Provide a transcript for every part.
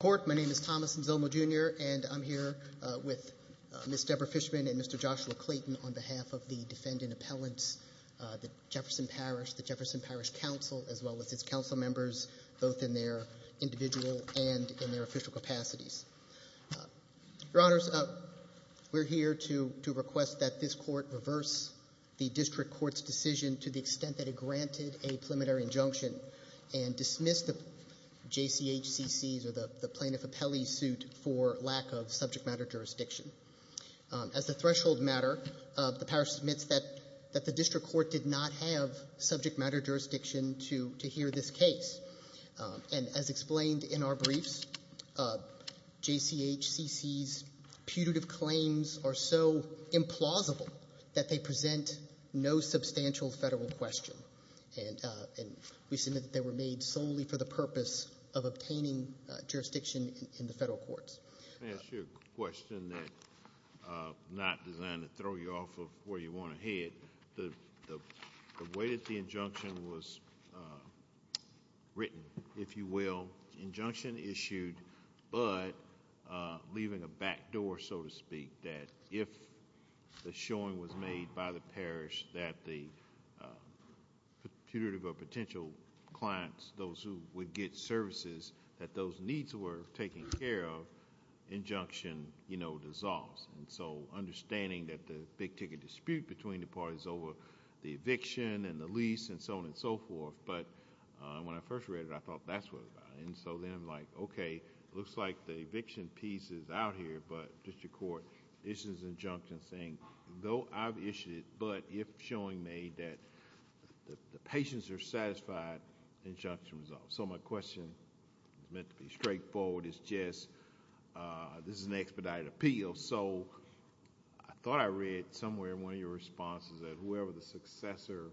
Court. My name is Thomas Nzilmo Jr. and I'm here with Ms. Deborah Fishman and Mr. Joshua Clayton on behalf of the Defendant Appellants, the Jefferson Parish, the Jefferson Parish Council, as well as its council members, both in their individual and in their official capacities. Your Honors, we're here to request that this Court reverse the District Court's decision to the extent that it granted a preliminary injunction and dismiss the JCHCC's or the Plaintiff Appellee's suit for lack of subject matter jurisdiction. As a threshold matter, the Parish submits that the District Court did not have subject matter jurisdiction to hear this case. And as explained in our briefs, JCHCC's putative claims are so implausible that they present no substantial federal question. And we submit that they were made solely for the purpose of obtaining jurisdiction in the federal courts. May I ask you a question that's not designed to throw you off of where you want to head? The way that the injunction was written, if you will, injunction issued, but leaving a back door, so to speak, that if the showing was made by the Parish that the putative or potential clients, those who would get services, that those needs were taken care of, the injunction dissolves. So understanding that the big ticket dispute between the parties over the eviction and the lease and so on and so forth, but when I first read it, I thought that's what it was about. This is an expedited appeal, so I thought I read somewhere in one of your responses that whoever the successor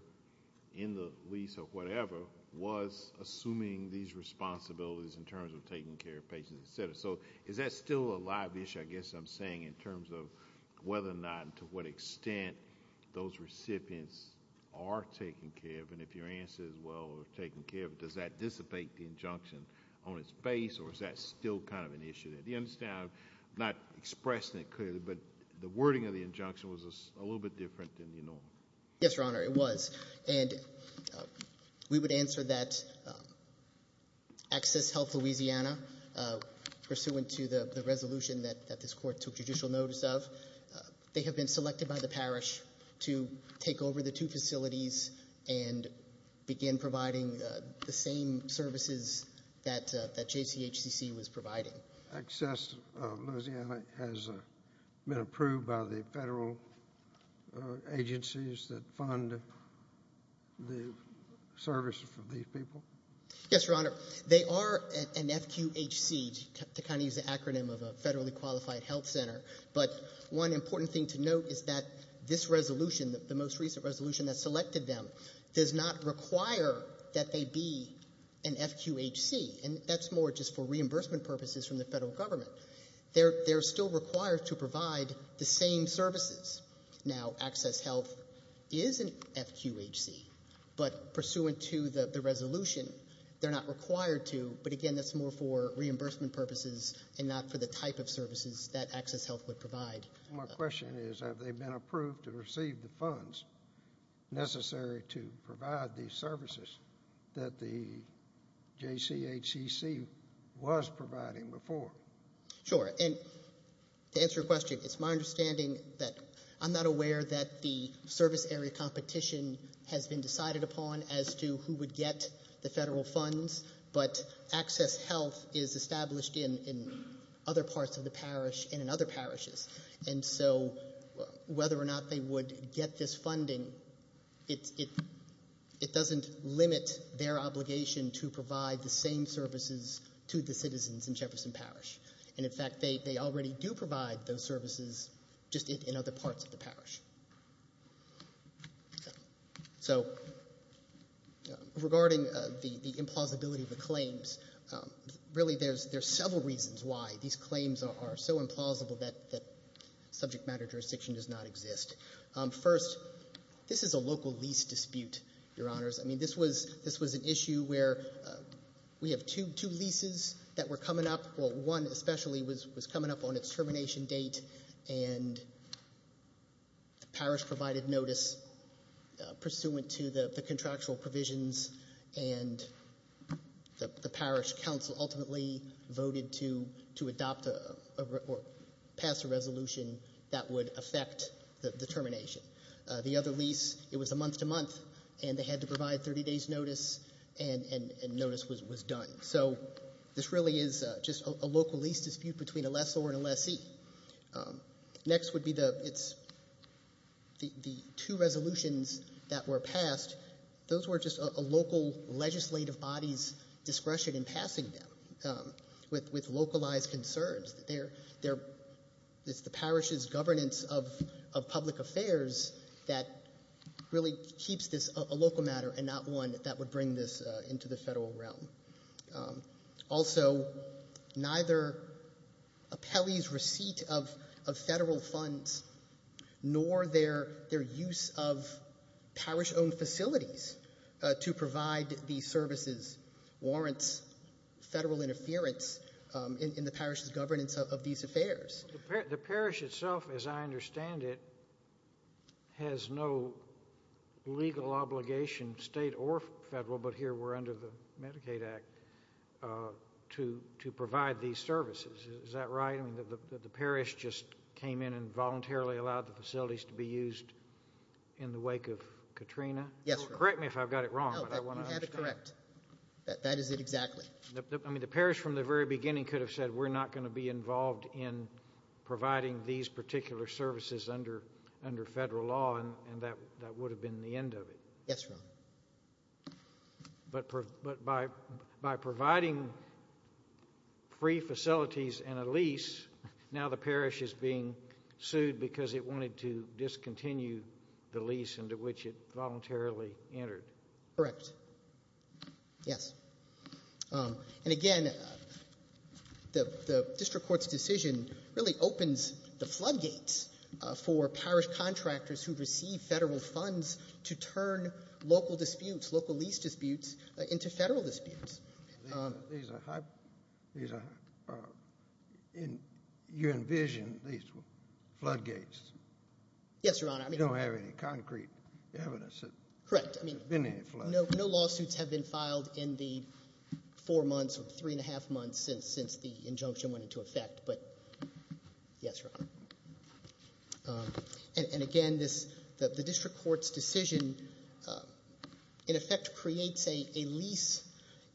in the lease or whatever was assuming these responsibilities in terms of taking care of patients, et cetera. So is that still a live issue, I guess I'm saying, in terms of whether or not and to what extent those recipients are taken care of? Even if your answer is well taken care of, does that dissipate the injunction on its face or is that still kind of an issue? Do you understand, I'm not expressing it clearly, but the wording of the injunction was a little bit different than you know. Yes, Your Honor, it was. And we would answer that Access Health Louisiana, pursuant to the resolution that this Court took judicial notice of, they have been selected by the Parish to take over the two facilities and begin providing the same services that JCHCC was providing. Access Louisiana has been approved by the federal agencies that fund the services for these people? Yes, Your Honor. They are an FQHC, to kind of use the acronym of a federally qualified health center, but one important thing to note is that this resolution, the most recent resolution that selected them, does not require that they be an FQHC, and that's more just for reimbursement purposes from the federal government. However, they're still required to provide the same services. Now, Access Health is an FQHC, but pursuant to the resolution, they're not required to, but again, that's more for reimbursement purposes and not for the type of services that Access Health would provide. My question is, have they been approved to receive the funds necessary to provide the services that the JCHCC was providing before? Sure, and to answer your question, it's my understanding that I'm not aware that the service area competition has been decided upon as to who would get the federal funds, but Access Health is established in other parts of the parish and in other parishes. And so whether or not they would get this funding, it doesn't limit their obligation to provide the same services to the citizens in Jefferson Parish, and in fact, they already do provide those services just in other parts of the parish. So regarding the implausibility of the claims, really there's several reasons why these claims are so implausible that subject matter jurisdiction does not exist. First, this is a local lease dispute, Your Honors. I mean, this was an issue where we have two leases that were coming up. Well, one especially was coming up on its termination date, and the parish provided notice pursuant to the contractual provisions, and the parish council ultimately voted to adopt or pass a resolution that would affect the termination. The other lease, it was a month-to-month, and they had to provide 30 days' notice, and notice was done. So this really is just a local lease dispute between a lessor and a lessee. Next would be the two resolutions that were passed. Those were just a local legislative body's discretion in passing them with localized concerns. It's the parish's governance of public affairs that really keeps this a local matter and not one that would bring this into the federal realm. Also, neither a Pele's receipt of federal funds nor their use of parish-owned facilities to provide these services warrants federal interference in the parish's governance of these affairs. The parish itself, as I understand it, has no legal obligation, state or federal, but here we're under the Medicaid Act, to provide these services. Is that right? I mean, the parish just came in and voluntarily allowed the facilities to be used in the wake of Katrina? Yes, Your Honor. Correct me if I've got it wrong. No, you have it correct. That is it exactly. I mean, the parish from the very beginning could have said, we're not going to be involved in providing these particular services under federal law, and that would have been the end of it. Yes, Your Honor. But by providing free facilities and a lease, now the parish is being sued because it wanted to discontinue the lease into which it voluntarily entered. Correct. Yes. And again, the district court's decision really opens the floodgates for parish contractors who receive federal funds to turn local disputes, local lease disputes, into federal disputes. You envision these floodgates. Yes, Your Honor. You don't have any concrete evidence. Correct. There's been any floodgates. No lawsuits have been filed in the four months or three and a half months since the injunction went into effect, but yes, Your Honor. And again, the district court's decision in effect creates a lease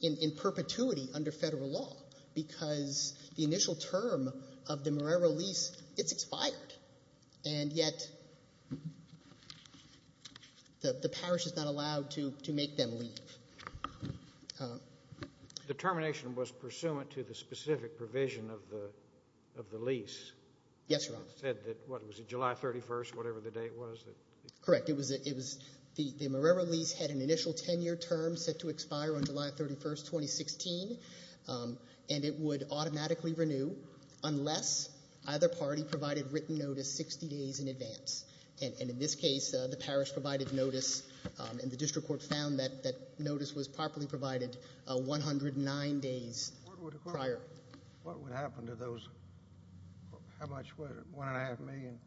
in perpetuity under federal law because the initial term of the Morero lease, it's expired, and yet the parish is not allowed to make them leave. The termination was pursuant to the specific provision of the lease. Yes, Your Honor. It said that, what, was it July 31st, whatever the date was? Correct. It was the Morero lease had an initial 10-year term set to expire on July 31st, 2016, and it would automatically renew unless either party provided written notice 60 days in advance. And in this case, the parish provided notice, and the district court found that that notice was properly provided 109 days prior. What would happen to those, how much would it, one and a half million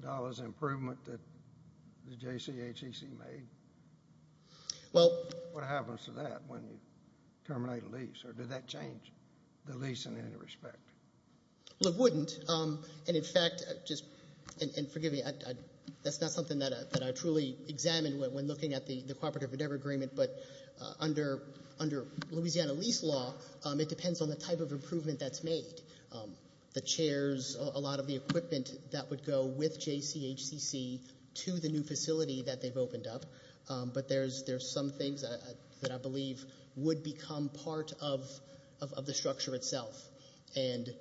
dollars improvement that the JCHC made? Well. What happens to that when you terminate a lease, or did that change the lease in any respect? Well, it wouldn't, and in fact, just, and forgive me, that's not something that I truly examined when looking at the cooperative endeavor agreement, but under Louisiana lease law, it depends on the type of improvement that's made. The chairs, a lot of the equipment that would go with JCHC to the new facility that they've opened up, but there's some things that I believe would become part of the structure itself, and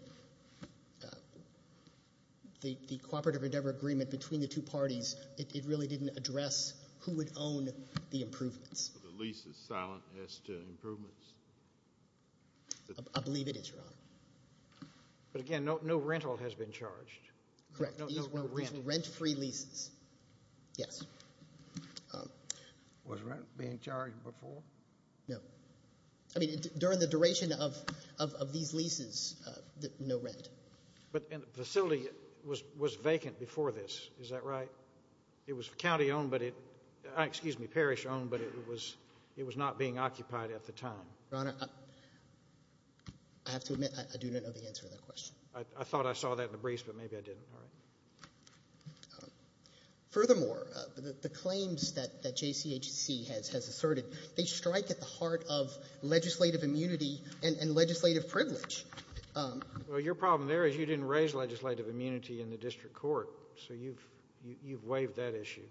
the cooperative endeavor agreement between the two parties, it really didn't address who would own the improvements. The lease is silent as to improvements? I believe it is, Your Honor. But again, no rental has been charged. Correct. These were rent-free leases. Yes. Was rent being charged before? No. I mean, during the duration of these leases, no rent. But the facility was vacant before this, is that right? It was county-owned, but it, excuse me, parish-owned, but it was not being occupied at the time. Your Honor, I have to admit I do not know the answer to that question. I thought I saw that in the briefs, but maybe I didn't. Furthermore, the claims that JCHC has asserted, they strike at the heart of legislative immunity and legislative privilege. Well, your problem there is you didn't raise legislative immunity in the district court, so you've waived that issue.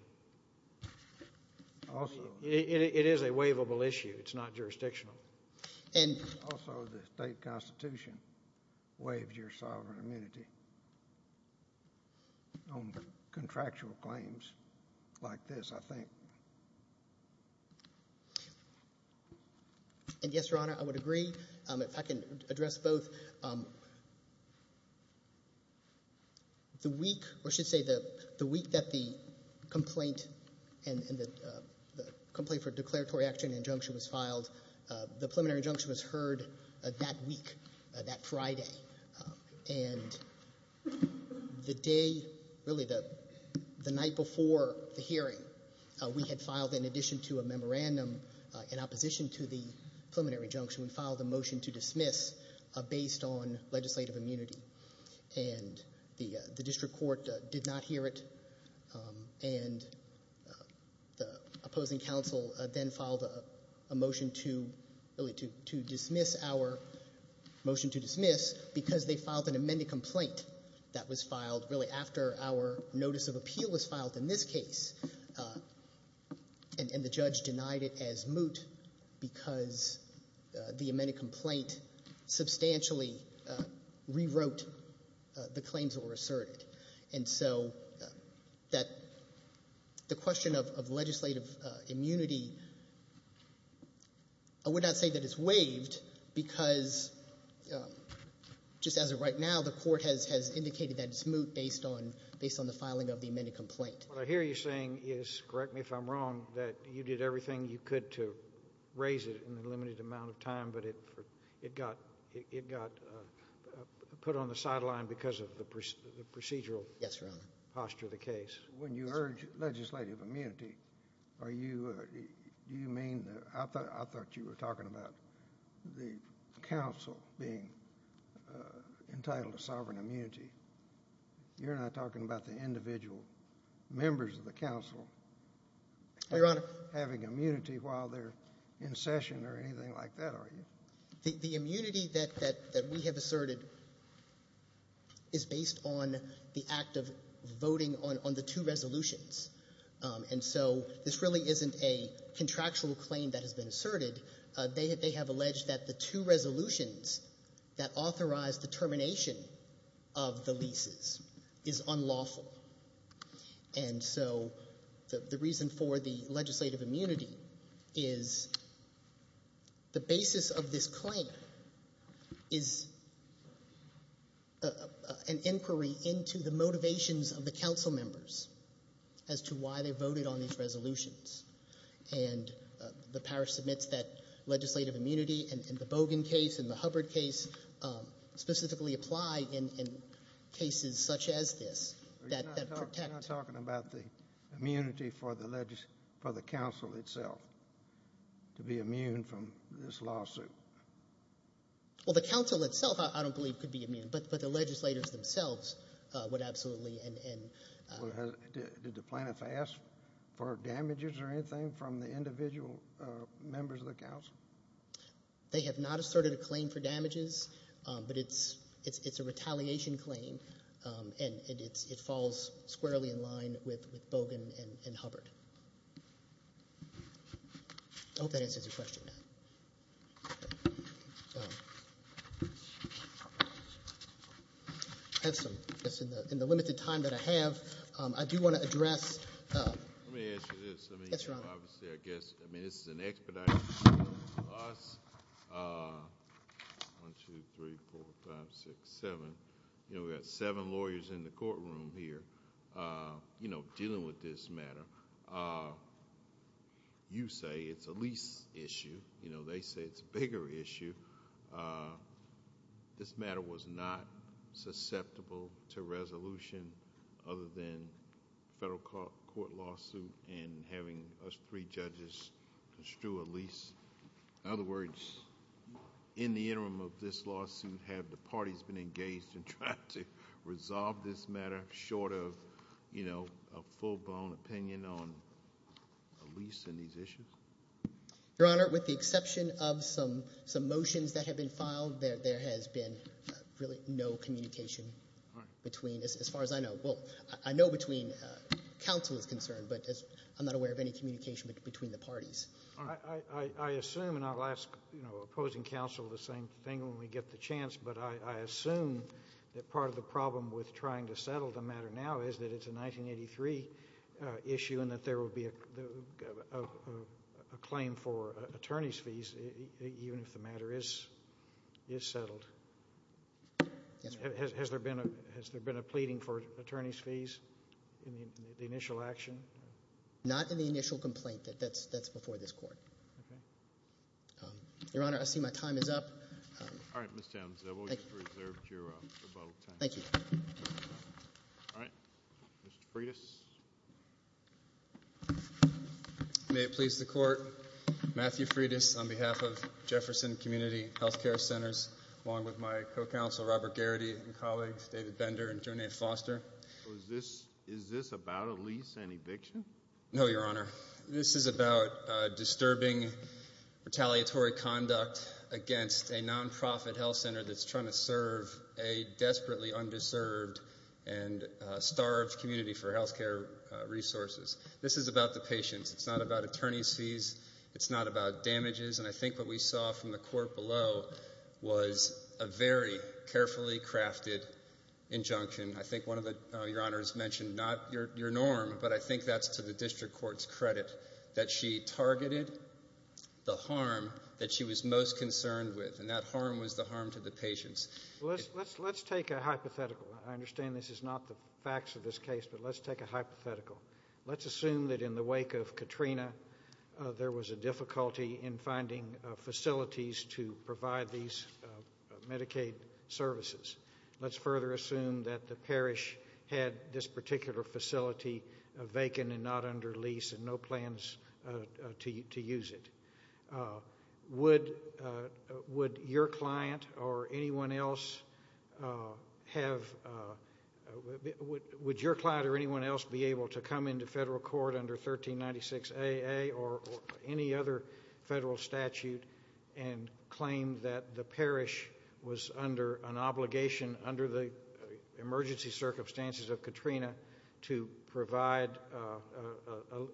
It is a waivable issue. It's not jurisdictional. Also, the state constitution waives your sovereign immunity on contractual claims like this, I think. And yes, your Honor, I would agree, if I can address both. The week, or I should say the week that the complaint for declaratory action injunction was filed, the preliminary injunction was heard that week, that Friday. And the day, really the night before the hearing, we had filed, in addition to a memorandum in opposition to the preliminary injunction, we filed a motion to dismiss based on legislative immunity. And the district court did not hear it. And the opposing counsel then filed a motion to dismiss because they filed an amended complaint that was filed really after our notice of appeal was filed in this case. And the judge denied it as moot because the amended complaint substantially rewrote the claims that were asserted. And so the question of legislative immunity, I would not say that it's waived because, just as of right now, the court has indicated that it's moot based on the filing of the amended complaint. What I hear you saying is, correct me if I'm wrong, that you did everything you could to raise it in the limited amount of time, but it got put on the sideline because of the procedural posture of the case. Yes, Your Honor. When you urge legislative immunity, are you, do you mean, I thought you were talking about the counsel being entitled to sovereign immunity. You're not talking about the individual members of the counsel having immunity while they're in session or anything like that, are you? The immunity that we have asserted is based on the act of voting on the two resolutions. And so this really isn't a contractual claim that has been asserted. They have alleged that the two resolutions that authorized the termination of the leases is unlawful. And so the reason for the legislative immunity is the basis of this claim is an inquiry into the motivations of the counsel members as to why they voted on these resolutions. And the power submits that legislative immunity in the Bogan case, in the Hubbard case, specifically apply in cases such as this that protect. You're not talking about the immunity for the counsel itself to be immune from this lawsuit? Well, the counsel itself I don't believe could be immune, but the legislators themselves would absolutely. Did the plaintiffs ask for damages or anything from the individual members of the counsel? They have not asserted a claim for damages, but it's a retaliation claim, and it falls squarely in line with Bogan and Hubbard. I hope that answers your question. Thank you. In the limited time that I have, I do want to address- Let me answer this. Yes, Your Honor. Obviously, I guess, I mean, this is an expedited hearing for us. One, two, three, four, five, six, seven. You know, we've got seven lawyers in the courtroom here, you know, dealing with this matter. You say it's a lease issue. You know, they say it's a bigger issue. This matter was not susceptible to resolution other than federal court lawsuit and having us three judges construe a lease. In other words, in the interim of this lawsuit, have the parties been engaged in trying to resolve this matter short of, you know, a full-blown opinion on a lease and these issues? Your Honor, with the exception of some motions that have been filed, there has been really no communication between, as far as I know. Well, I know between counsel is concerned, but I'm not aware of any communication between the parties. I assume, and I'll ask, you know, opposing counsel the same thing when we get the chance, but I assume that part of the problem with trying to settle the matter now is that it's a 1983 issue and that there will be a claim for attorney's fees even if the matter is settled. Yes, sir. Has there been a pleading for attorney's fees in the initial action? Not in the initial complaint. That's before this court. Okay. Your Honor, I see my time is up. All right, Ms. Townsend, we'll reserve your rebuttal time. Thank you. All right, Mr. Freitas. May it please the Court, Matthew Freitas on behalf of Jefferson Community Health Care Centers, along with my co-counsel Robert Garrity and colleagues David Bender and Jornade Foster. Is this about a lease and eviction? No, Your Honor. This is about disturbing retaliatory conduct against a nonprofit health center that's trying to serve a desperately underserved and starved community for health care resources. This is about the patients. It's not about attorney's fees. It's not about damages. And I think what we saw from the court below was a very carefully crafted injunction. I think one of your honors mentioned not your norm, but I think that's to the district court's credit, that she targeted the harm that she was most concerned with, and that harm was the harm to the patients. Let's take a hypothetical. I understand this is not the facts of this case, but let's take a hypothetical. Let's assume that in the wake of Katrina, there was a difficulty in finding facilities to provide these Medicaid services. Let's further assume that the parish had this particular facility vacant and not under lease and no plans to use it. Would your client or anyone else be able to come into federal court under 1396AA or any other federal statute and claim that the parish was under an obligation under the emergency circumstances of Katrina to provide,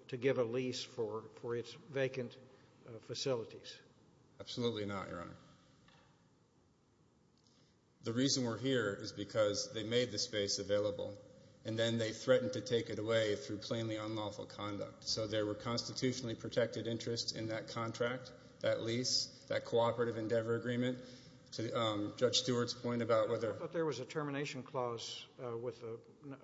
to give a lease for its vacant facilities? Absolutely not, Your Honor. The reason we're here is because they made the space available, and then they threatened to take it away through plainly unlawful conduct. So there were constitutionally protected interests in that contract, that lease, that cooperative endeavor agreement. To Judge Stewart's point about whether- I thought there was a termination clause with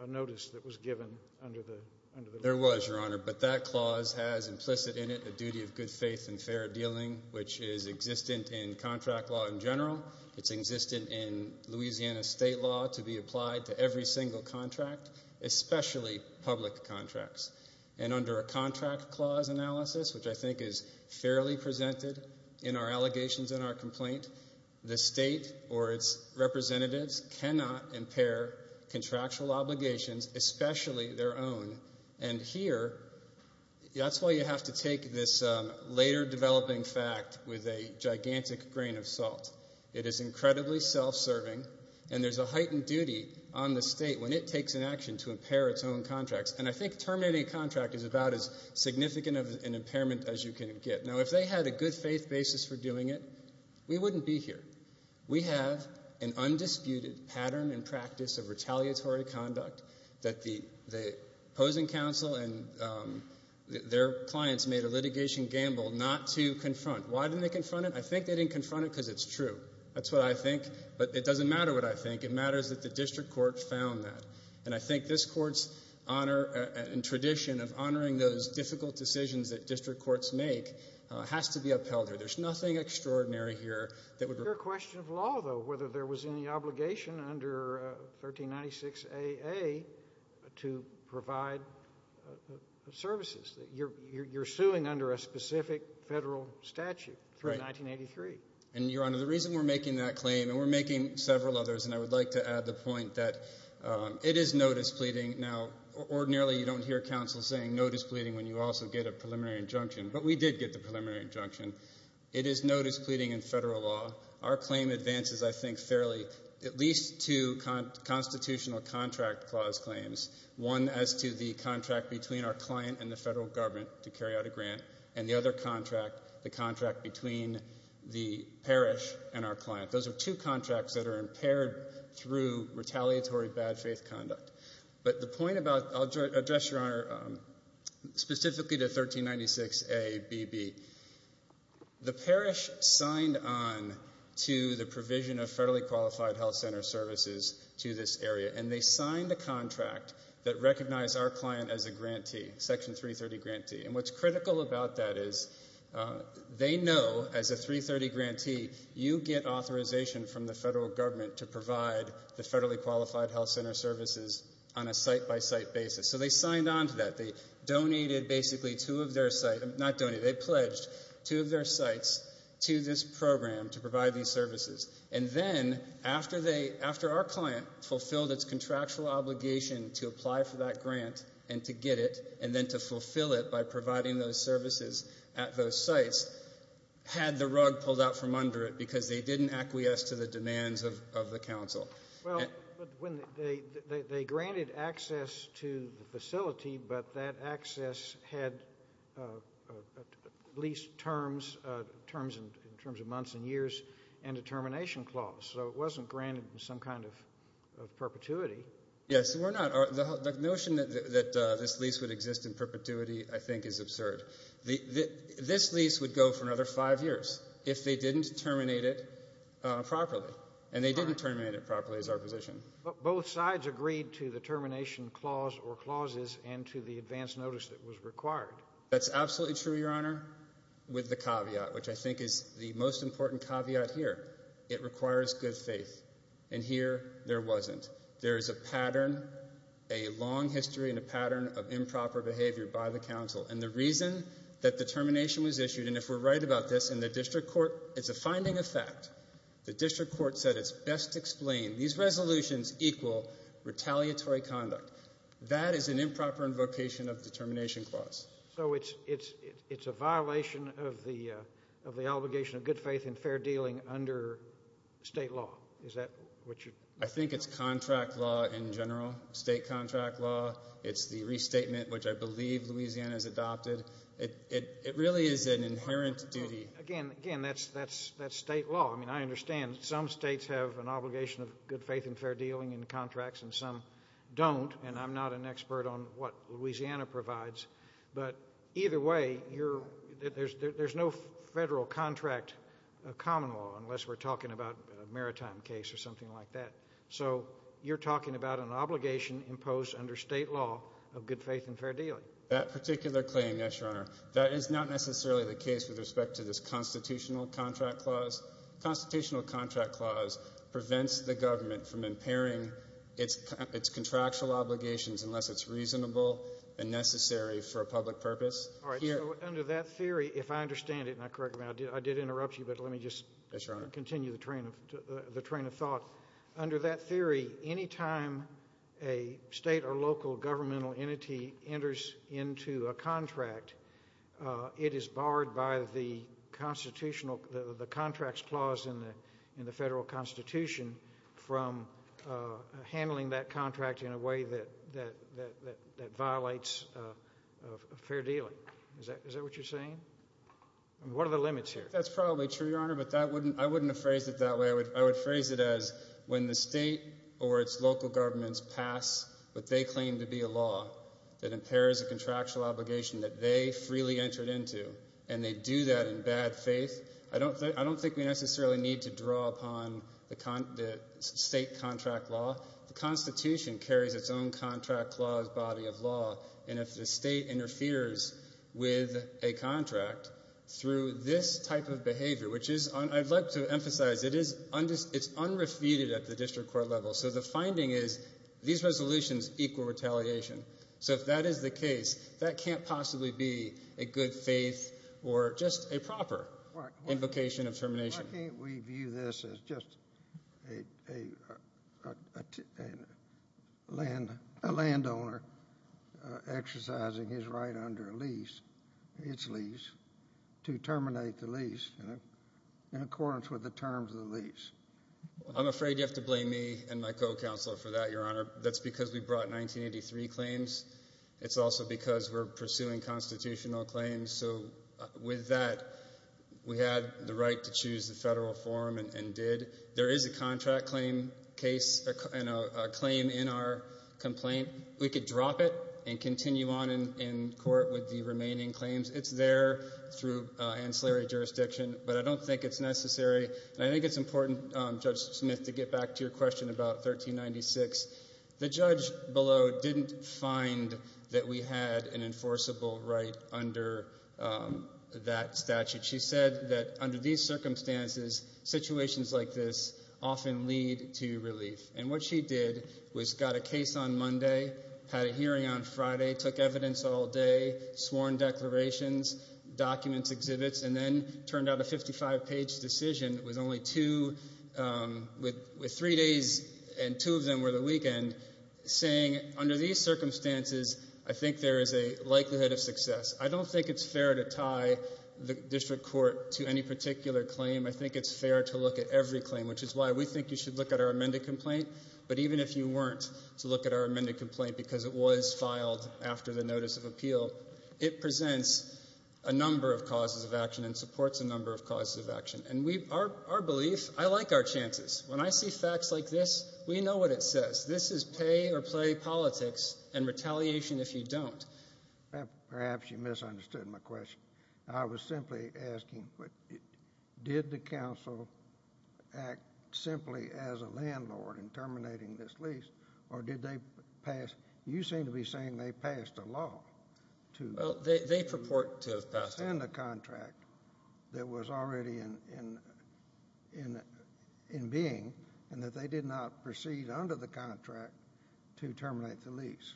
a notice that was given under the lease. There was, Your Honor, but that clause has implicit in it a duty of good faith and fair dealing, which is existent in contract law in general. It's existent in Louisiana state law to be applied to every single contract, especially public contracts. And under a contract clause analysis, which I think is fairly presented in our allegations and our complaint, the state or its representatives cannot impair contractual obligations, especially their own. And here, that's why you have to take this later developing fact with a gigantic grain of salt. It is incredibly self-serving, and there's a heightened duty on the state when it takes an action to impair its own contracts. And I think terminating a contract is about as significant an impairment as you can get. Now, if they had a good faith basis for doing it, we wouldn't be here. We have an undisputed pattern and practice of retaliatory conduct that the opposing counsel and their clients made a litigation gamble not to confront. Why didn't they confront it? I think they didn't confront it because it's true. That's what I think, but it doesn't matter what I think. It matters that the district court found that. And I think this court's honor and tradition of honoring those difficult decisions that district courts make has to be upheld here. There's nothing extraordinary here that would— Your question of law, though, whether there was any obligation under 1396AA to provide services. You're suing under a specific federal statute through 1983. And, Your Honor, the reason we're making that claim, and we're making several others, and I would like to add the point that it is notice pleading. Now, ordinarily you don't hear counsel saying notice pleading when you also get a preliminary injunction, but we did get the preliminary injunction. It is notice pleading in federal law. Our claim advances, I think, fairly at least two constitutional contract clause claims, one as to the contract between our client and the federal government to carry out a grant, and the other contract, the contract between the parish and our client. Those are two contracts that are impaired through retaliatory bad faith conduct. But the point about—I'll address, Your Honor, specifically to 1396ABB. The parish signed on to the provision of federally qualified health center services to this area, and they signed a contract that recognized our client as a grantee, Section 330 grantee. And what's critical about that is they know, as a 330 grantee, you get authorization from the federal government to provide the federally qualified health center services on a site-by-site basis. So they signed on to that. They donated basically two of their site—not donated, they pledged two of their sites to this program to provide these services. And then after our client fulfilled its contractual obligation to apply for that grant and to get it and then to fulfill it by providing those services at those sites, had the rug pulled out from under it because they didn't acquiesce to the demands of the council. Well, they granted access to the facility, but that access had lease terms, terms in terms of months and years and a termination clause. So it wasn't granted in some kind of perpetuity. Yes. The notion that this lease would exist in perpetuity, I think, is absurd. This lease would go for another five years if they didn't terminate it properly, and they didn't terminate it properly is our position. But both sides agreed to the termination clause or clauses and to the advance notice that was required. That's absolutely true, Your Honor, with the caveat, which I think is the most important caveat here. It requires good faith. And here there wasn't. There is a pattern, a long history and a pattern of improper behavior by the council. And the reason that the termination was issued, and if we're right about this, in the district court it's a finding of fact. The district court said it's best explained. These resolutions equal retaliatory conduct. That is an improper invocation of the termination clause. So it's a violation of the obligation of good faith and fair dealing under state law. Is that what you're talking about? I think it's contract law in general, state contract law. It's the restatement, which I believe Louisiana has adopted. It really is an inherent duty. Again, that's state law. I mean, I understand some states have an obligation of good faith and fair dealing in contracts and some don't. And I'm not an expert on what Louisiana provides. But either way, there's no federal contract common law unless we're talking about a maritime case or something like that. So you're talking about an obligation imposed under state law of good faith and fair dealing. That particular claim, yes, Your Honor, that is not necessarily the case with respect to this constitutional contract clause. The constitutional contract clause prevents the government from impairing its contractual obligations unless it's reasonable and necessary for a public purpose. All right. So under that theory, if I understand it, and I correct you, I did interrupt you, but let me just continue the train of thought. Under that theory, any time a state or local governmental entity enters into a contract, it is barred by the contract's clause in the federal constitution from handling that contract in a way that violates fair dealing. Is that what you're saying? What are the limits here? That's probably true, Your Honor, but I wouldn't have phrased it that way. I would phrase it as when the state or its local governments pass what they claim to be a law that impairs a contractual obligation that they freely entered into and they do that in bad faith, I don't think we necessarily need to draw upon the state contract law. The Constitution carries its own contract clause body of law, and if the state interferes with a contract through this type of behavior, which is, I'd like to emphasize, it's unrefuted at the district court level. So the finding is these resolutions equal retaliation. So if that is the case, that can't possibly be a good faith or just a proper invocation of termination. Why can't we view this as just a landowner exercising his right under a lease, its lease, to terminate the lease in accordance with the terms of the lease? I'm afraid you have to blame me and my co-counselor for that, Your Honor. That's because we brought 1983 claims. It's also because we're pursuing constitutional claims. So with that, we had the right to choose the federal form and did. There is a contract claim case and a claim in our complaint. We could drop it and continue on in court with the remaining claims. It's there through ancillary jurisdiction, but I don't think it's necessary, and I think it's important, Judge Smith, to get back to your question about 1396. The judge below didn't find that we had an enforceable right under that statute. She said that under these circumstances, situations like this often lead to relief, and what she did was got a case on Monday, had a hearing on Friday, took evidence all day, sworn declarations, documents, exhibits, and then turned out a 55-page decision with three days and two of them were the weekend, saying under these circumstances, I think there is a likelihood of success. I don't think it's fair to tie the district court to any particular claim. I think it's fair to look at every claim, which is why we think you should look at our amended complaint, but even if you weren't to look at our amended complaint because it was filed after the notice of appeal, it presents a number of causes of action and supports a number of causes of action. Our belief, I like our chances. When I see facts like this, we know what it says. This is pay or play politics and retaliation if you don't. Perhaps you misunderstood my question. I was simply asking did the council act simply as a landlord in terminating this lease, or did they pass? You seem to be saying they passed a law. They purport to have passed a law. In the contract that was already in being and that they did not proceed under the contract to terminate the lease.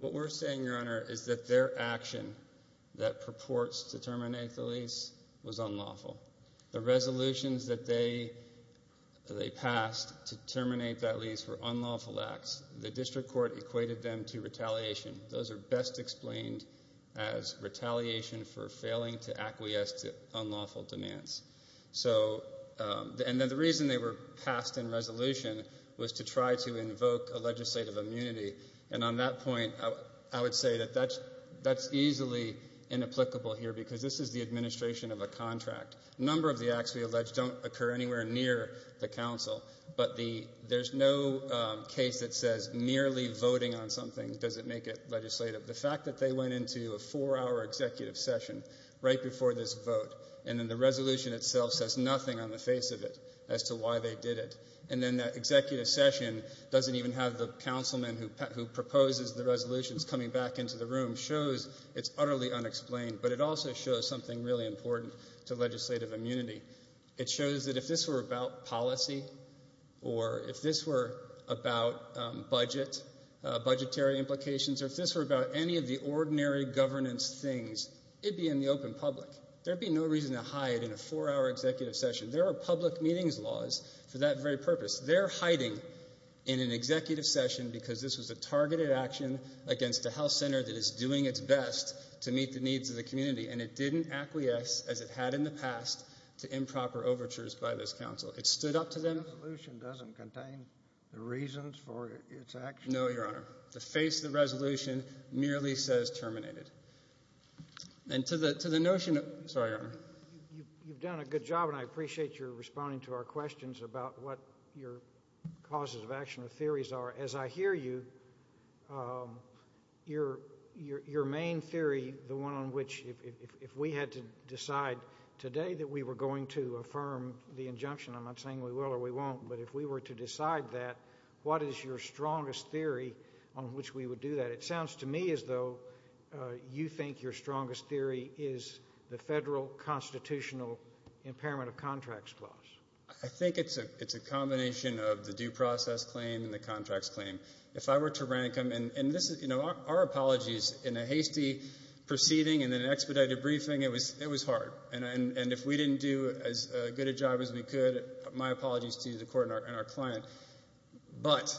What we're saying, Your Honor, is that their action that purports to terminate the lease was unlawful. The resolutions that they passed to terminate that lease were unlawful acts. The district court equated them to retaliation. Those are best explained as retaliation for failing to acquiesce to unlawful demands. The reason they were passed in resolution was to try to invoke a legislative immunity. On that point, I would say that that's easily inapplicable here because this is the administration of a contract. A number of the acts we allege don't occur anywhere near the council, but there's no case that says merely voting on something doesn't make it legislative. The fact that they went into a four-hour executive session right before this vote, and then the resolution itself says nothing on the face of it as to why they did it, and then that executive session doesn't even have the councilman who proposes the resolutions coming back into the room, shows it's utterly unexplained, but it also shows something really important to legislative immunity. It shows that if this were about policy or if this were about budget, budgetary implications, or if this were about any of the ordinary governance things, it'd be in the open public. There'd be no reason to hide in a four-hour executive session. There are public meetings laws for that very purpose. They're hiding in an executive session because this was a targeted action against a health center that is doing its best to meet the needs of the community, and it didn't acquiesce as it had in the past to improper overtures by this council. It stood up to them. The resolution doesn't contain the reasons for its action? No, Your Honor. The face of the resolution merely says terminated. And to the notion of—sorry, Your Honor. You've done a good job, and I appreciate your responding to our questions about what your causes of action or theories are. As I hear you, your main theory, the one on which if we had to decide today that we were going to affirm the injunction, I'm not saying we will or we won't, but if we were to decide that, what is your strongest theory on which we would do that? It sounds to me as though you think your strongest theory is the federal constitutional impairment of contracts clause. I think it's a combination of the due process claim and the contracts claim. If I were to rank them—and, you know, our apologies. In a hasty proceeding and then an expedited briefing, it was hard. And if we didn't do as good a job as we could, my apologies to the court and our client. But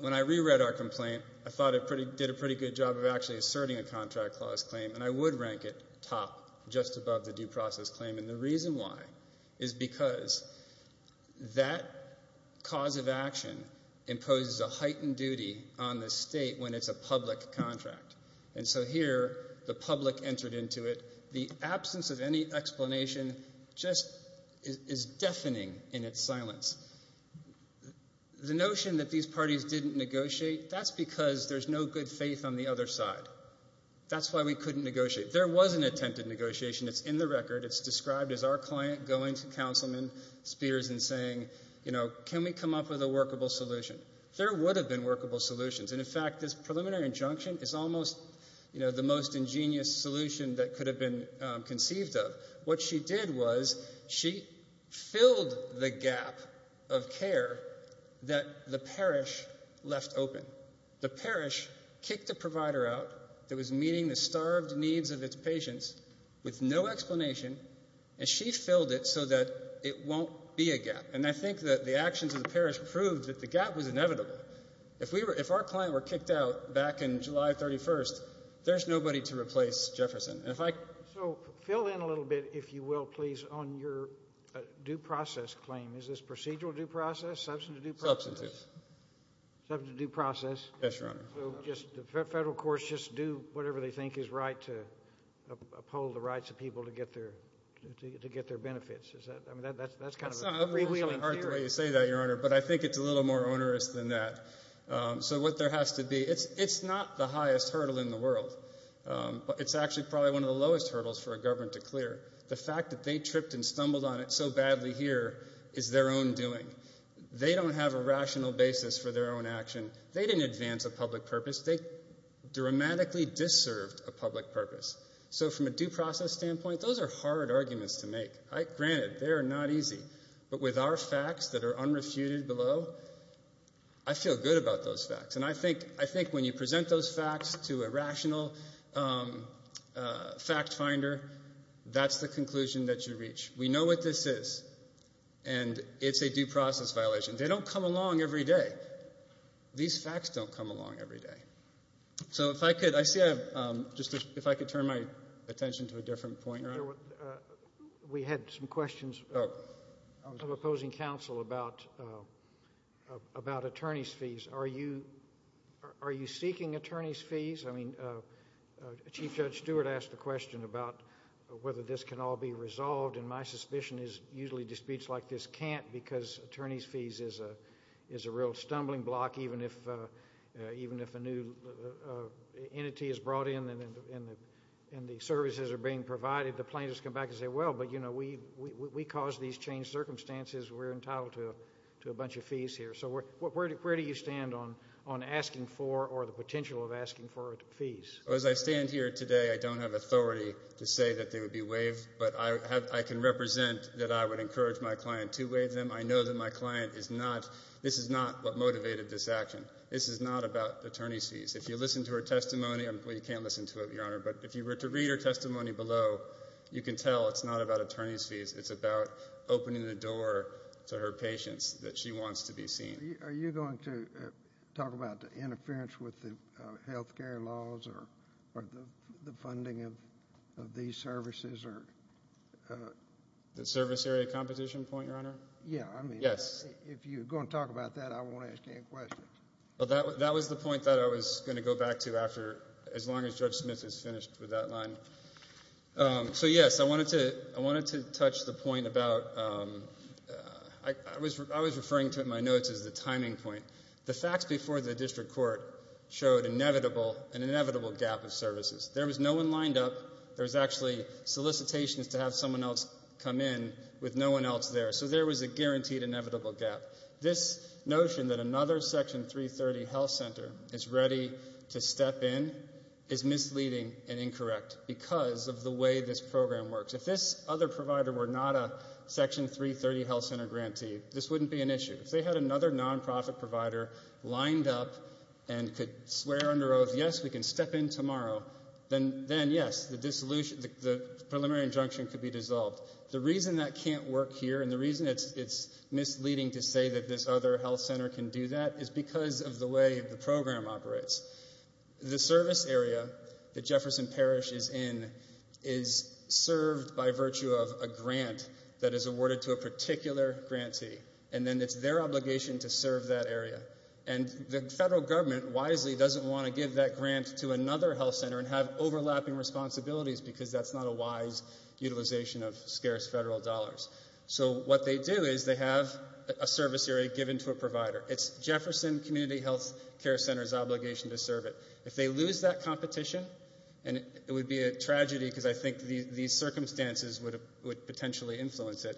when I reread our complaint, I thought it did a pretty good job of actually asserting a contract clause claim, and I would rank it top, just above the due process claim. And the reason why is because that cause of action imposes a heightened duty on the state when it's a public contract. And so here, the public entered into it. The absence of any explanation just is deafening in its silence. The notion that these parties didn't negotiate, that's because there's no good faith on the other side. That's why we couldn't negotiate. There was an attempted negotiation. It's in the record. It's described as our client going to Councilman Spears and saying, you know, can we come up with a workable solution? There would have been workable solutions. And, in fact, this preliminary injunction is almost, you know, the most ingenious solution that could have been conceived of. What she did was she filled the gap of care that the parish left open. The parish kicked a provider out that was meeting the starved needs of its patients with no explanation, and she filled it so that it won't be a gap. And I think that the actions of the parish proved that the gap was inevitable. If our client were kicked out back in July 31st, there's nobody to replace Jefferson. So fill in a little bit, if you will, please, on your due process claim. Is this procedural due process, substantive due process? Substantive. Substantive due process. Yes, Your Honor. So just the federal courts just do whatever they think is right to uphold the rights of people to get their benefits. I mean, that's kind of a freewheeling theory. I don't know why you say that, Your Honor, but I think it's a little more onerous than that. So what there has to be, it's not the highest hurdle in the world. It's actually probably one of the lowest hurdles for a government to clear. The fact that they tripped and stumbled on it so badly here is their own doing. They don't have a rational basis for their own action. They didn't advance a public purpose. They dramatically disserved a public purpose. So from a due process standpoint, those are hard arguments to make. Granted, they are not easy. But with our facts that are unrefuted below, I feel good about those facts. And I think when you present those facts to a rational fact finder, that's the conclusion that you reach. We know what this is, and it's a due process violation. They don't come along every day. These facts don't come along every day. So if I could, I see I have, just if I could turn my attention to a different point, Your Honor. We had some questions of opposing counsel about attorney's fees. Are you seeking attorney's fees? I mean, Chief Judge Stewart asked a question about whether this can all be resolved, and my suspicion is usually disputes like this can't because attorney's fees is a real stumbling block. Even if a new entity is brought in and the services are being provided, the plaintiffs come back and say, Well, but, you know, we caused these changed circumstances. We're entitled to a bunch of fees here. So where do you stand on asking for or the potential of asking for fees? As I stand here today, I don't have authority to say that they would be waived, but I can represent that I would encourage my client to waive them. I know that my client is not, this is not what motivated this action. This is not about attorney's fees. If you listen to her testimony, well, you can't listen to it, Your Honor, but if you were to read her testimony below, you can tell it's not about attorney's fees. It's about opening the door to her patients that she wants to be seen. Are you going to talk about the interference with the health care laws or the funding of these services? The service area competition point, Your Honor? Yes. If you're going to talk about that, I won't ask any questions. Well, that was the point that I was going to go back to after, as long as Judge Smith is finished with that line. So, yes, I wanted to touch the point about, I was referring to in my notes as the timing point. The facts before the district court showed an inevitable gap of services. There was no one lined up. There was actually solicitations to have someone else come in with no one else there. So there was a guaranteed, inevitable gap. This notion that another Section 330 health center is ready to step in is misleading and incorrect because of the way this program works. If this other provider were not a Section 330 health center grantee, this wouldn't be an issue. If they had another nonprofit provider lined up and could swear under oath, yes, we can step in tomorrow, then, yes, the preliminary injunction could be dissolved. The reason that can't work here and the reason it's misleading to say that this other health center can do that is because of the way the program operates. The service area that Jefferson Parish is in is served by virtue of a grant that is awarded to a particular grantee, and then it's their obligation to serve that area. And the federal government wisely doesn't want to give that grant to another health center and have overlapping responsibilities because that's not a wise utilization of scarce federal dollars. So what they do is they have a service area given to a provider. It's Jefferson Community Health Care Center's obligation to serve it. If they lose that competition, and it would be a tragedy because I think these circumstances would potentially influence it,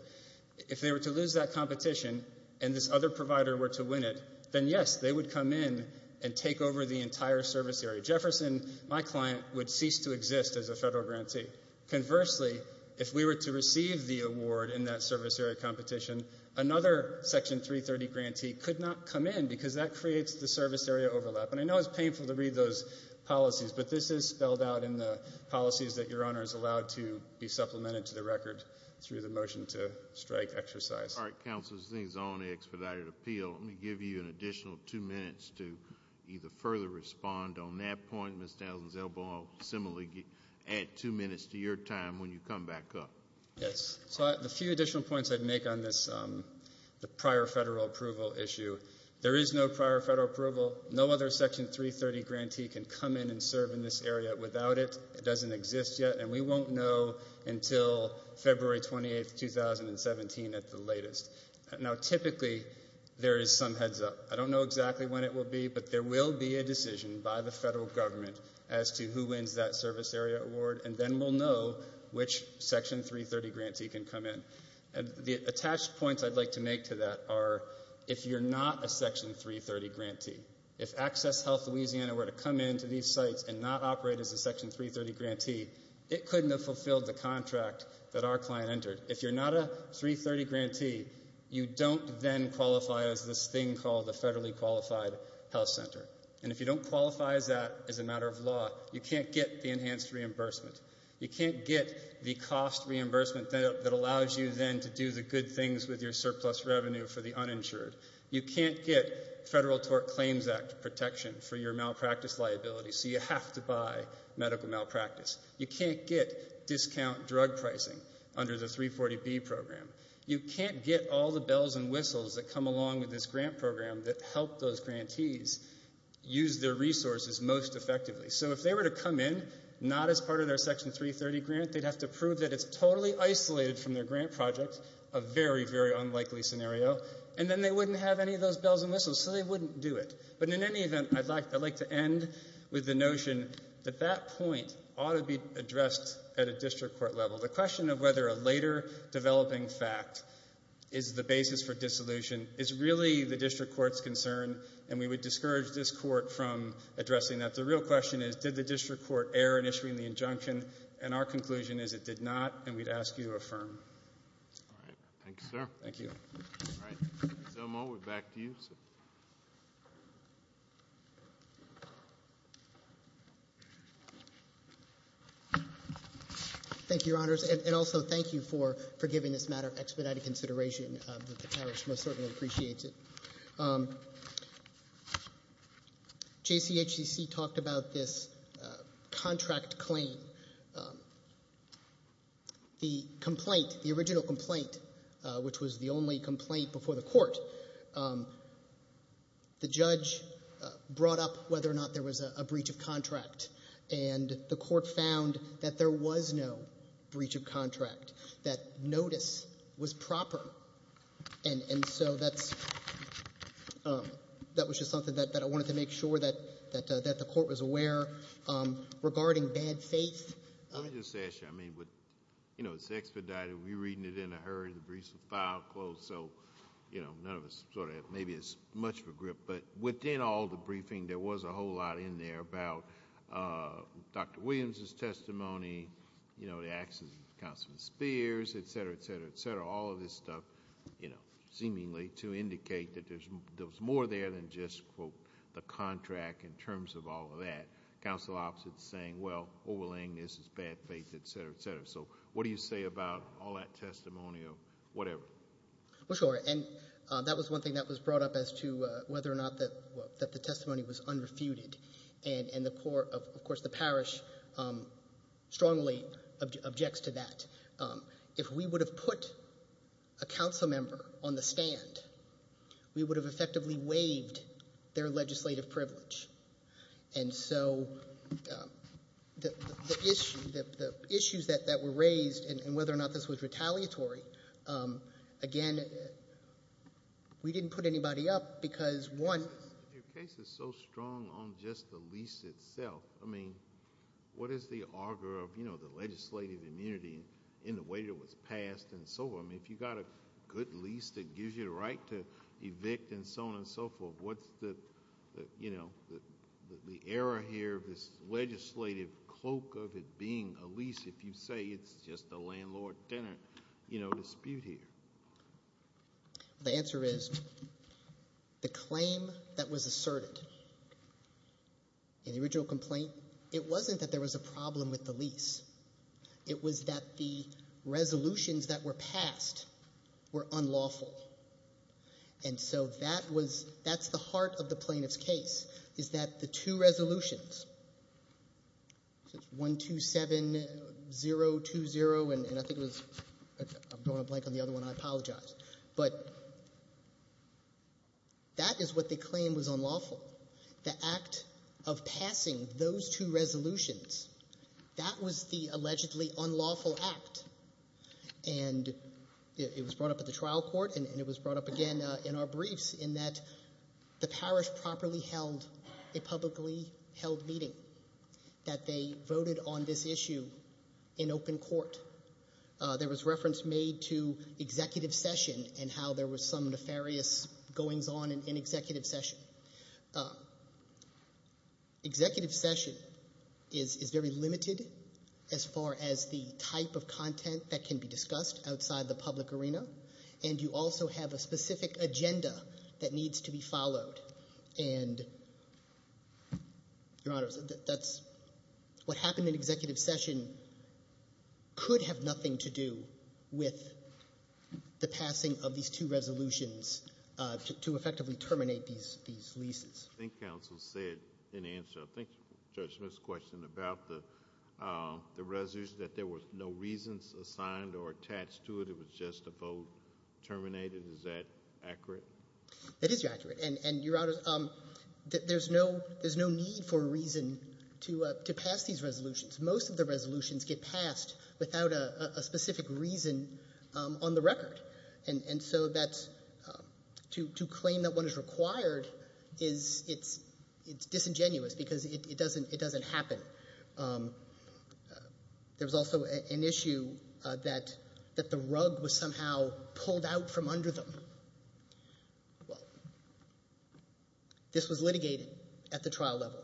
if they were to lose that competition and this other provider were to win it, then, yes, they would come in and take over the entire service area. Jefferson, my client, would cease to exist as a federal grantee. Conversely, if we were to receive the award in that service area competition, another Section 330 grantee could not come in because that creates the service area overlap. And I know it's painful to read those policies, but this is spelled out in the policies that Your Honor is allowed to be supplemented to the record through the motion to strike exercise. All right, Counsel, as things are on the expedited appeal, let me give you an additional two minutes to either further respond on that point. Ms. Dallin-Zellboe, I'll similarly add two minutes to your time when you come back up. Yes. So the few additional points I'd make on this prior federal approval issue, there is no prior federal approval. No other Section 330 grantee can come in and serve in this area without it. It doesn't exist yet, and we won't know until February 28, 2017 at the latest. Now, typically, there is some heads up. I don't know exactly when it will be, but there will be a decision by the federal government as to who wins that service area award, and then we'll know which Section 330 grantee can come in. The attached points I'd like to make to that are if you're not a Section 330 grantee, if AccessHealth Louisiana were to come into these sites and not operate as a Section 330 grantee, it couldn't have fulfilled the contract that our client entered. If you're not a 330 grantee, you don't then qualify as this thing called a federally qualified health center, and if you don't qualify as that as a matter of law, you can't get the enhanced reimbursement. You can't get the cost reimbursement that allows you then to do the good things with your surplus revenue for the uninsured. You can't get Federal Tort Claims Act protection for your malpractice liability, so you have to buy medical malpractice. You can't get discount drug pricing under the 340B program. You can't get all the bells and whistles that come along with this grant program that help those grantees use their resources most effectively. So if they were to come in not as part of their Section 330 grant, they'd have to prove that it's totally isolated from their grant project, a very, very unlikely scenario, and then they wouldn't have any of those bells and whistles, so they wouldn't do it. But in any event, I'd like to end with the notion that that point ought to be addressed at a district court level. The question of whether a later developing fact is the basis for dissolution is really the district court's concern, and we would discourage this court from addressing that. The real question is did the district court err in issuing the injunction, and our conclusion is it did not, and we'd ask you to affirm. All right. Thank you, sir. Thank you. All right. Mr. Zelma, we're back to you, sir. Thank you, Your Honors, and also thank you for giving this matter expedited consideration. The parish most certainly appreciates it. JCHC talked about this contract claim. The complaint, the original complaint, which was the only complaint before the court, the judge brought up whether or not there was a breach of contract, and the court found that there was no breach of contract, that notice was proper, and so that was just something that I wanted to make sure that the court was aware. Regarding bad faith? Let me just ask you. I mean, you know, it's expedited. We're reading it in a hurry. The briefs were filed, closed, so, you know, none of us sort of have maybe as much of a grip, but within all the briefing there was a whole lot in there about Dr. Williams' testimony, you know, the actions of Councilman Spears, et cetera, et cetera, et cetera, all of this stuff, you know, Council opposite saying, well, overlaying this is bad faith, et cetera, et cetera. So what do you say about all that testimony or whatever? Well, sure, and that was one thing that was brought up as to whether or not that the testimony was unrefuted, and, of course, the parish strongly objects to that. If we would have put a council member on the stand, we would have effectively waived their legislative privilege, and so the issues that were raised and whether or not this was retaliatory, again, we didn't put anybody up because, one. Your case is so strong on just the lease itself. I mean, what is the arbor of, you know, the legislative immunity in the way that it was passed and so on? I mean, if you've got a good lease that gives you the right to evict and so on and so forth, what's the, you know, the error here of this legislative cloak of it being a lease if you say it's just a landlord-tenant, you know, dispute here? The answer is the claim that was asserted in the original complaint, it wasn't that there was a problem with the lease. It was that the resolutions that were passed were unlawful. And so that was the heart of the plaintiff's case, is that the two resolutions, so it's 127020 and I think it was, I'm going to blank on the other one, I apologize. But that is what the claim was unlawful. The act of passing those two resolutions, that was the allegedly unlawful act. And it was brought up at the trial court and it was brought up again in our briefs in that the parish properly held a publicly held meeting, that they voted on this issue in open court. There was reference made to executive session and how there was some nefarious goings on in executive session. Executive session is very limited as far as the type of content that can be discussed outside the public arena, and you also have a specific agenda that needs to be followed. And, Your Honor, that's what happened in executive session could have nothing to do with the passing of these two resolutions to effectively terminate these leases. I think counsel said in answer, I think Judge Smith's question about the resolution that there was no reasons assigned or attached to it, it was just a vote terminated, is that accurate? That is accurate. And, Your Honor, there's no need for a reason to pass these resolutions. Most of the resolutions get passed without a specific reason on the record. And so to claim that one is required is disingenuous because it doesn't happen. There was also an issue that the rug was somehow pulled out from under them. Well, this was litigated at the trial level.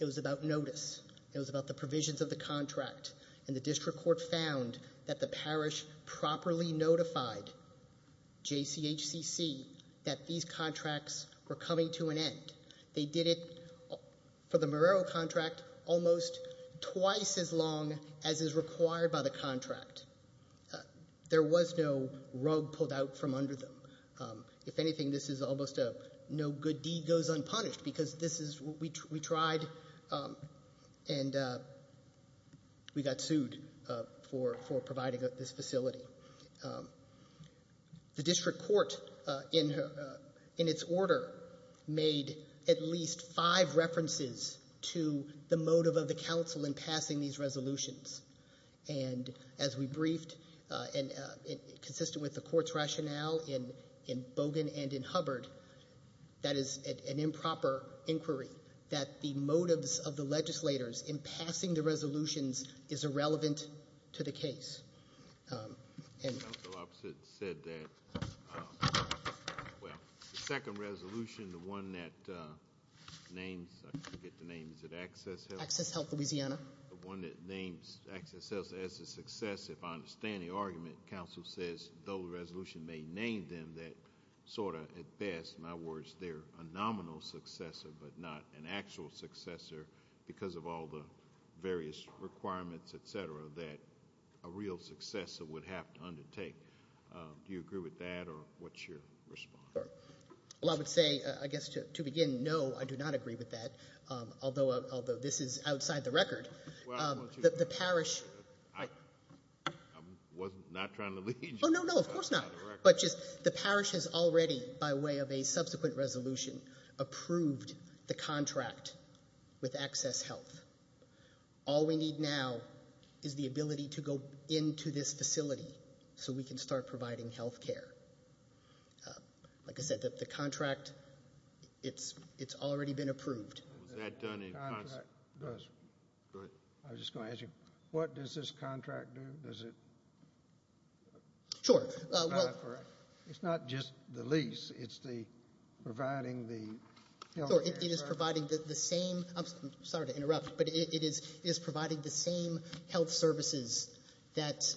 It was about notice. It was about the provisions of the contract, and the district court found that the parish properly notified JCHCC that these contracts were coming to an end. They did it for the Marrero contract almost twice as long as is required by the contract. There was no rug pulled out from under them. If anything, this is almost a no good deed goes unpunished because this is what we tried, and we got sued for providing this facility. The district court, in its order, made at least five references to the motive of the counsel in passing these resolutions. And as we briefed, consistent with the court's rationale in Bogan and in Hubbard, that is an improper inquiry that the motives of the legislators in passing the resolutions is irrelevant to the case. And counsel opposite said that the second resolution, the one that names, I forget the name, is it Access Health? Access Health, Louisiana. The one that names Access Health as a successor, if I understand the argument, counsel says the resolution may name them that sort of at best, in other words, they're a nominal successor but not an actual successor because of all the various requirements, et cetera, that a real successor would have to undertake. Do you agree with that, or what's your response? Well, I would say, I guess to begin, no, I do not agree with that. Although this is outside the record, the parish- I was not trying to lead you. Oh, no, no, of course not. But just the parish has already, by way of a subsequent resolution, approved the contract with Access Health. All we need now is the ability to go into this facility so we can start providing health care. Like I said, the contract, it's already been approved. Was that done in- I was just going to ask you, what does this contract do? Does it- Sure. It's not just the lease, it's the providing the- It is providing the same, I'm sorry to interrupt, but it is providing the same health services that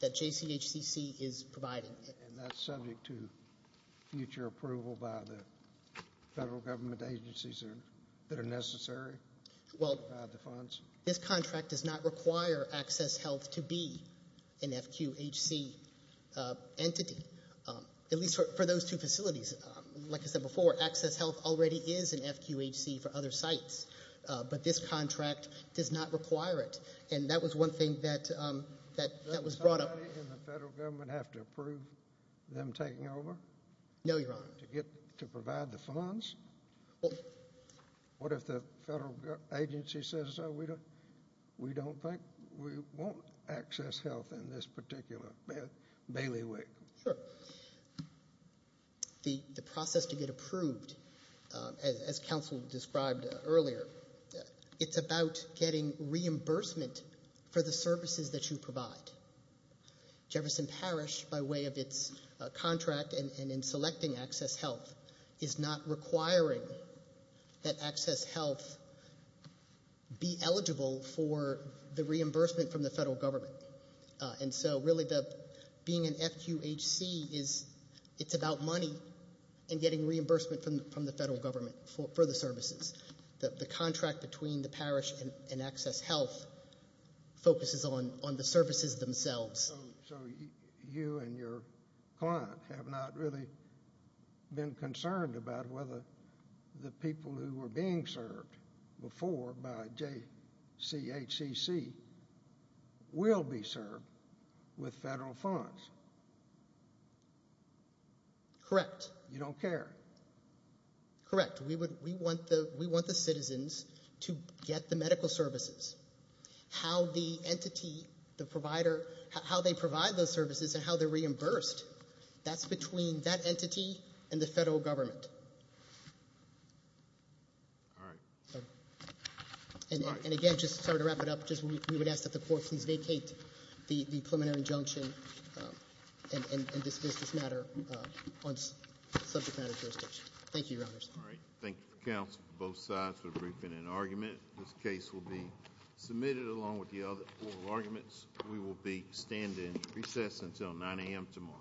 JCHCC is providing. And that's subject to future approval by the federal government agencies that are necessary to provide the funds? Well, this contract does not require Access Health to be an FQHC entity, at least for those two facilities. Like I said before, Access Health already is an FQHC for other sites, but this contract does not require it. And that was one thing that was brought up. Does anybody in the federal government have to approve them taking over? No, Your Honor. To provide the funds? What if the federal agency says, we don't think we want Access Health in this particular bailiwick? Sure. The process to get approved, as counsel described earlier, it's about getting reimbursement for the services that you provide. Jefferson Parish, by way of its contract and in selecting Access Health, is not requiring that Access Health be eligible for the reimbursement from the federal government. And so really being an FQHC, it's about money and getting reimbursement from the federal government for the services. The contract between the parish and Access Health focuses on the services themselves. So you and your client have not really been concerned about whether the people who were being served before by JCHCC will be served with federal funds? Correct. You don't care? Correct. We want the citizens to get the medical services. How the entity, the provider, how they provide those services and how they're reimbursed, that's between that entity and the federal government. All right. And again, just to sort of wrap it up, we would ask that the Court please vacate the preliminary injunction and this business matter on subject matter jurisdiction. Thank you, Your Honors. All right. Thank you, counsel, both sides for the briefing and argument. This case will be submitted along with the other oral arguments. We will be standing recess until 9 a.m. tomorrow.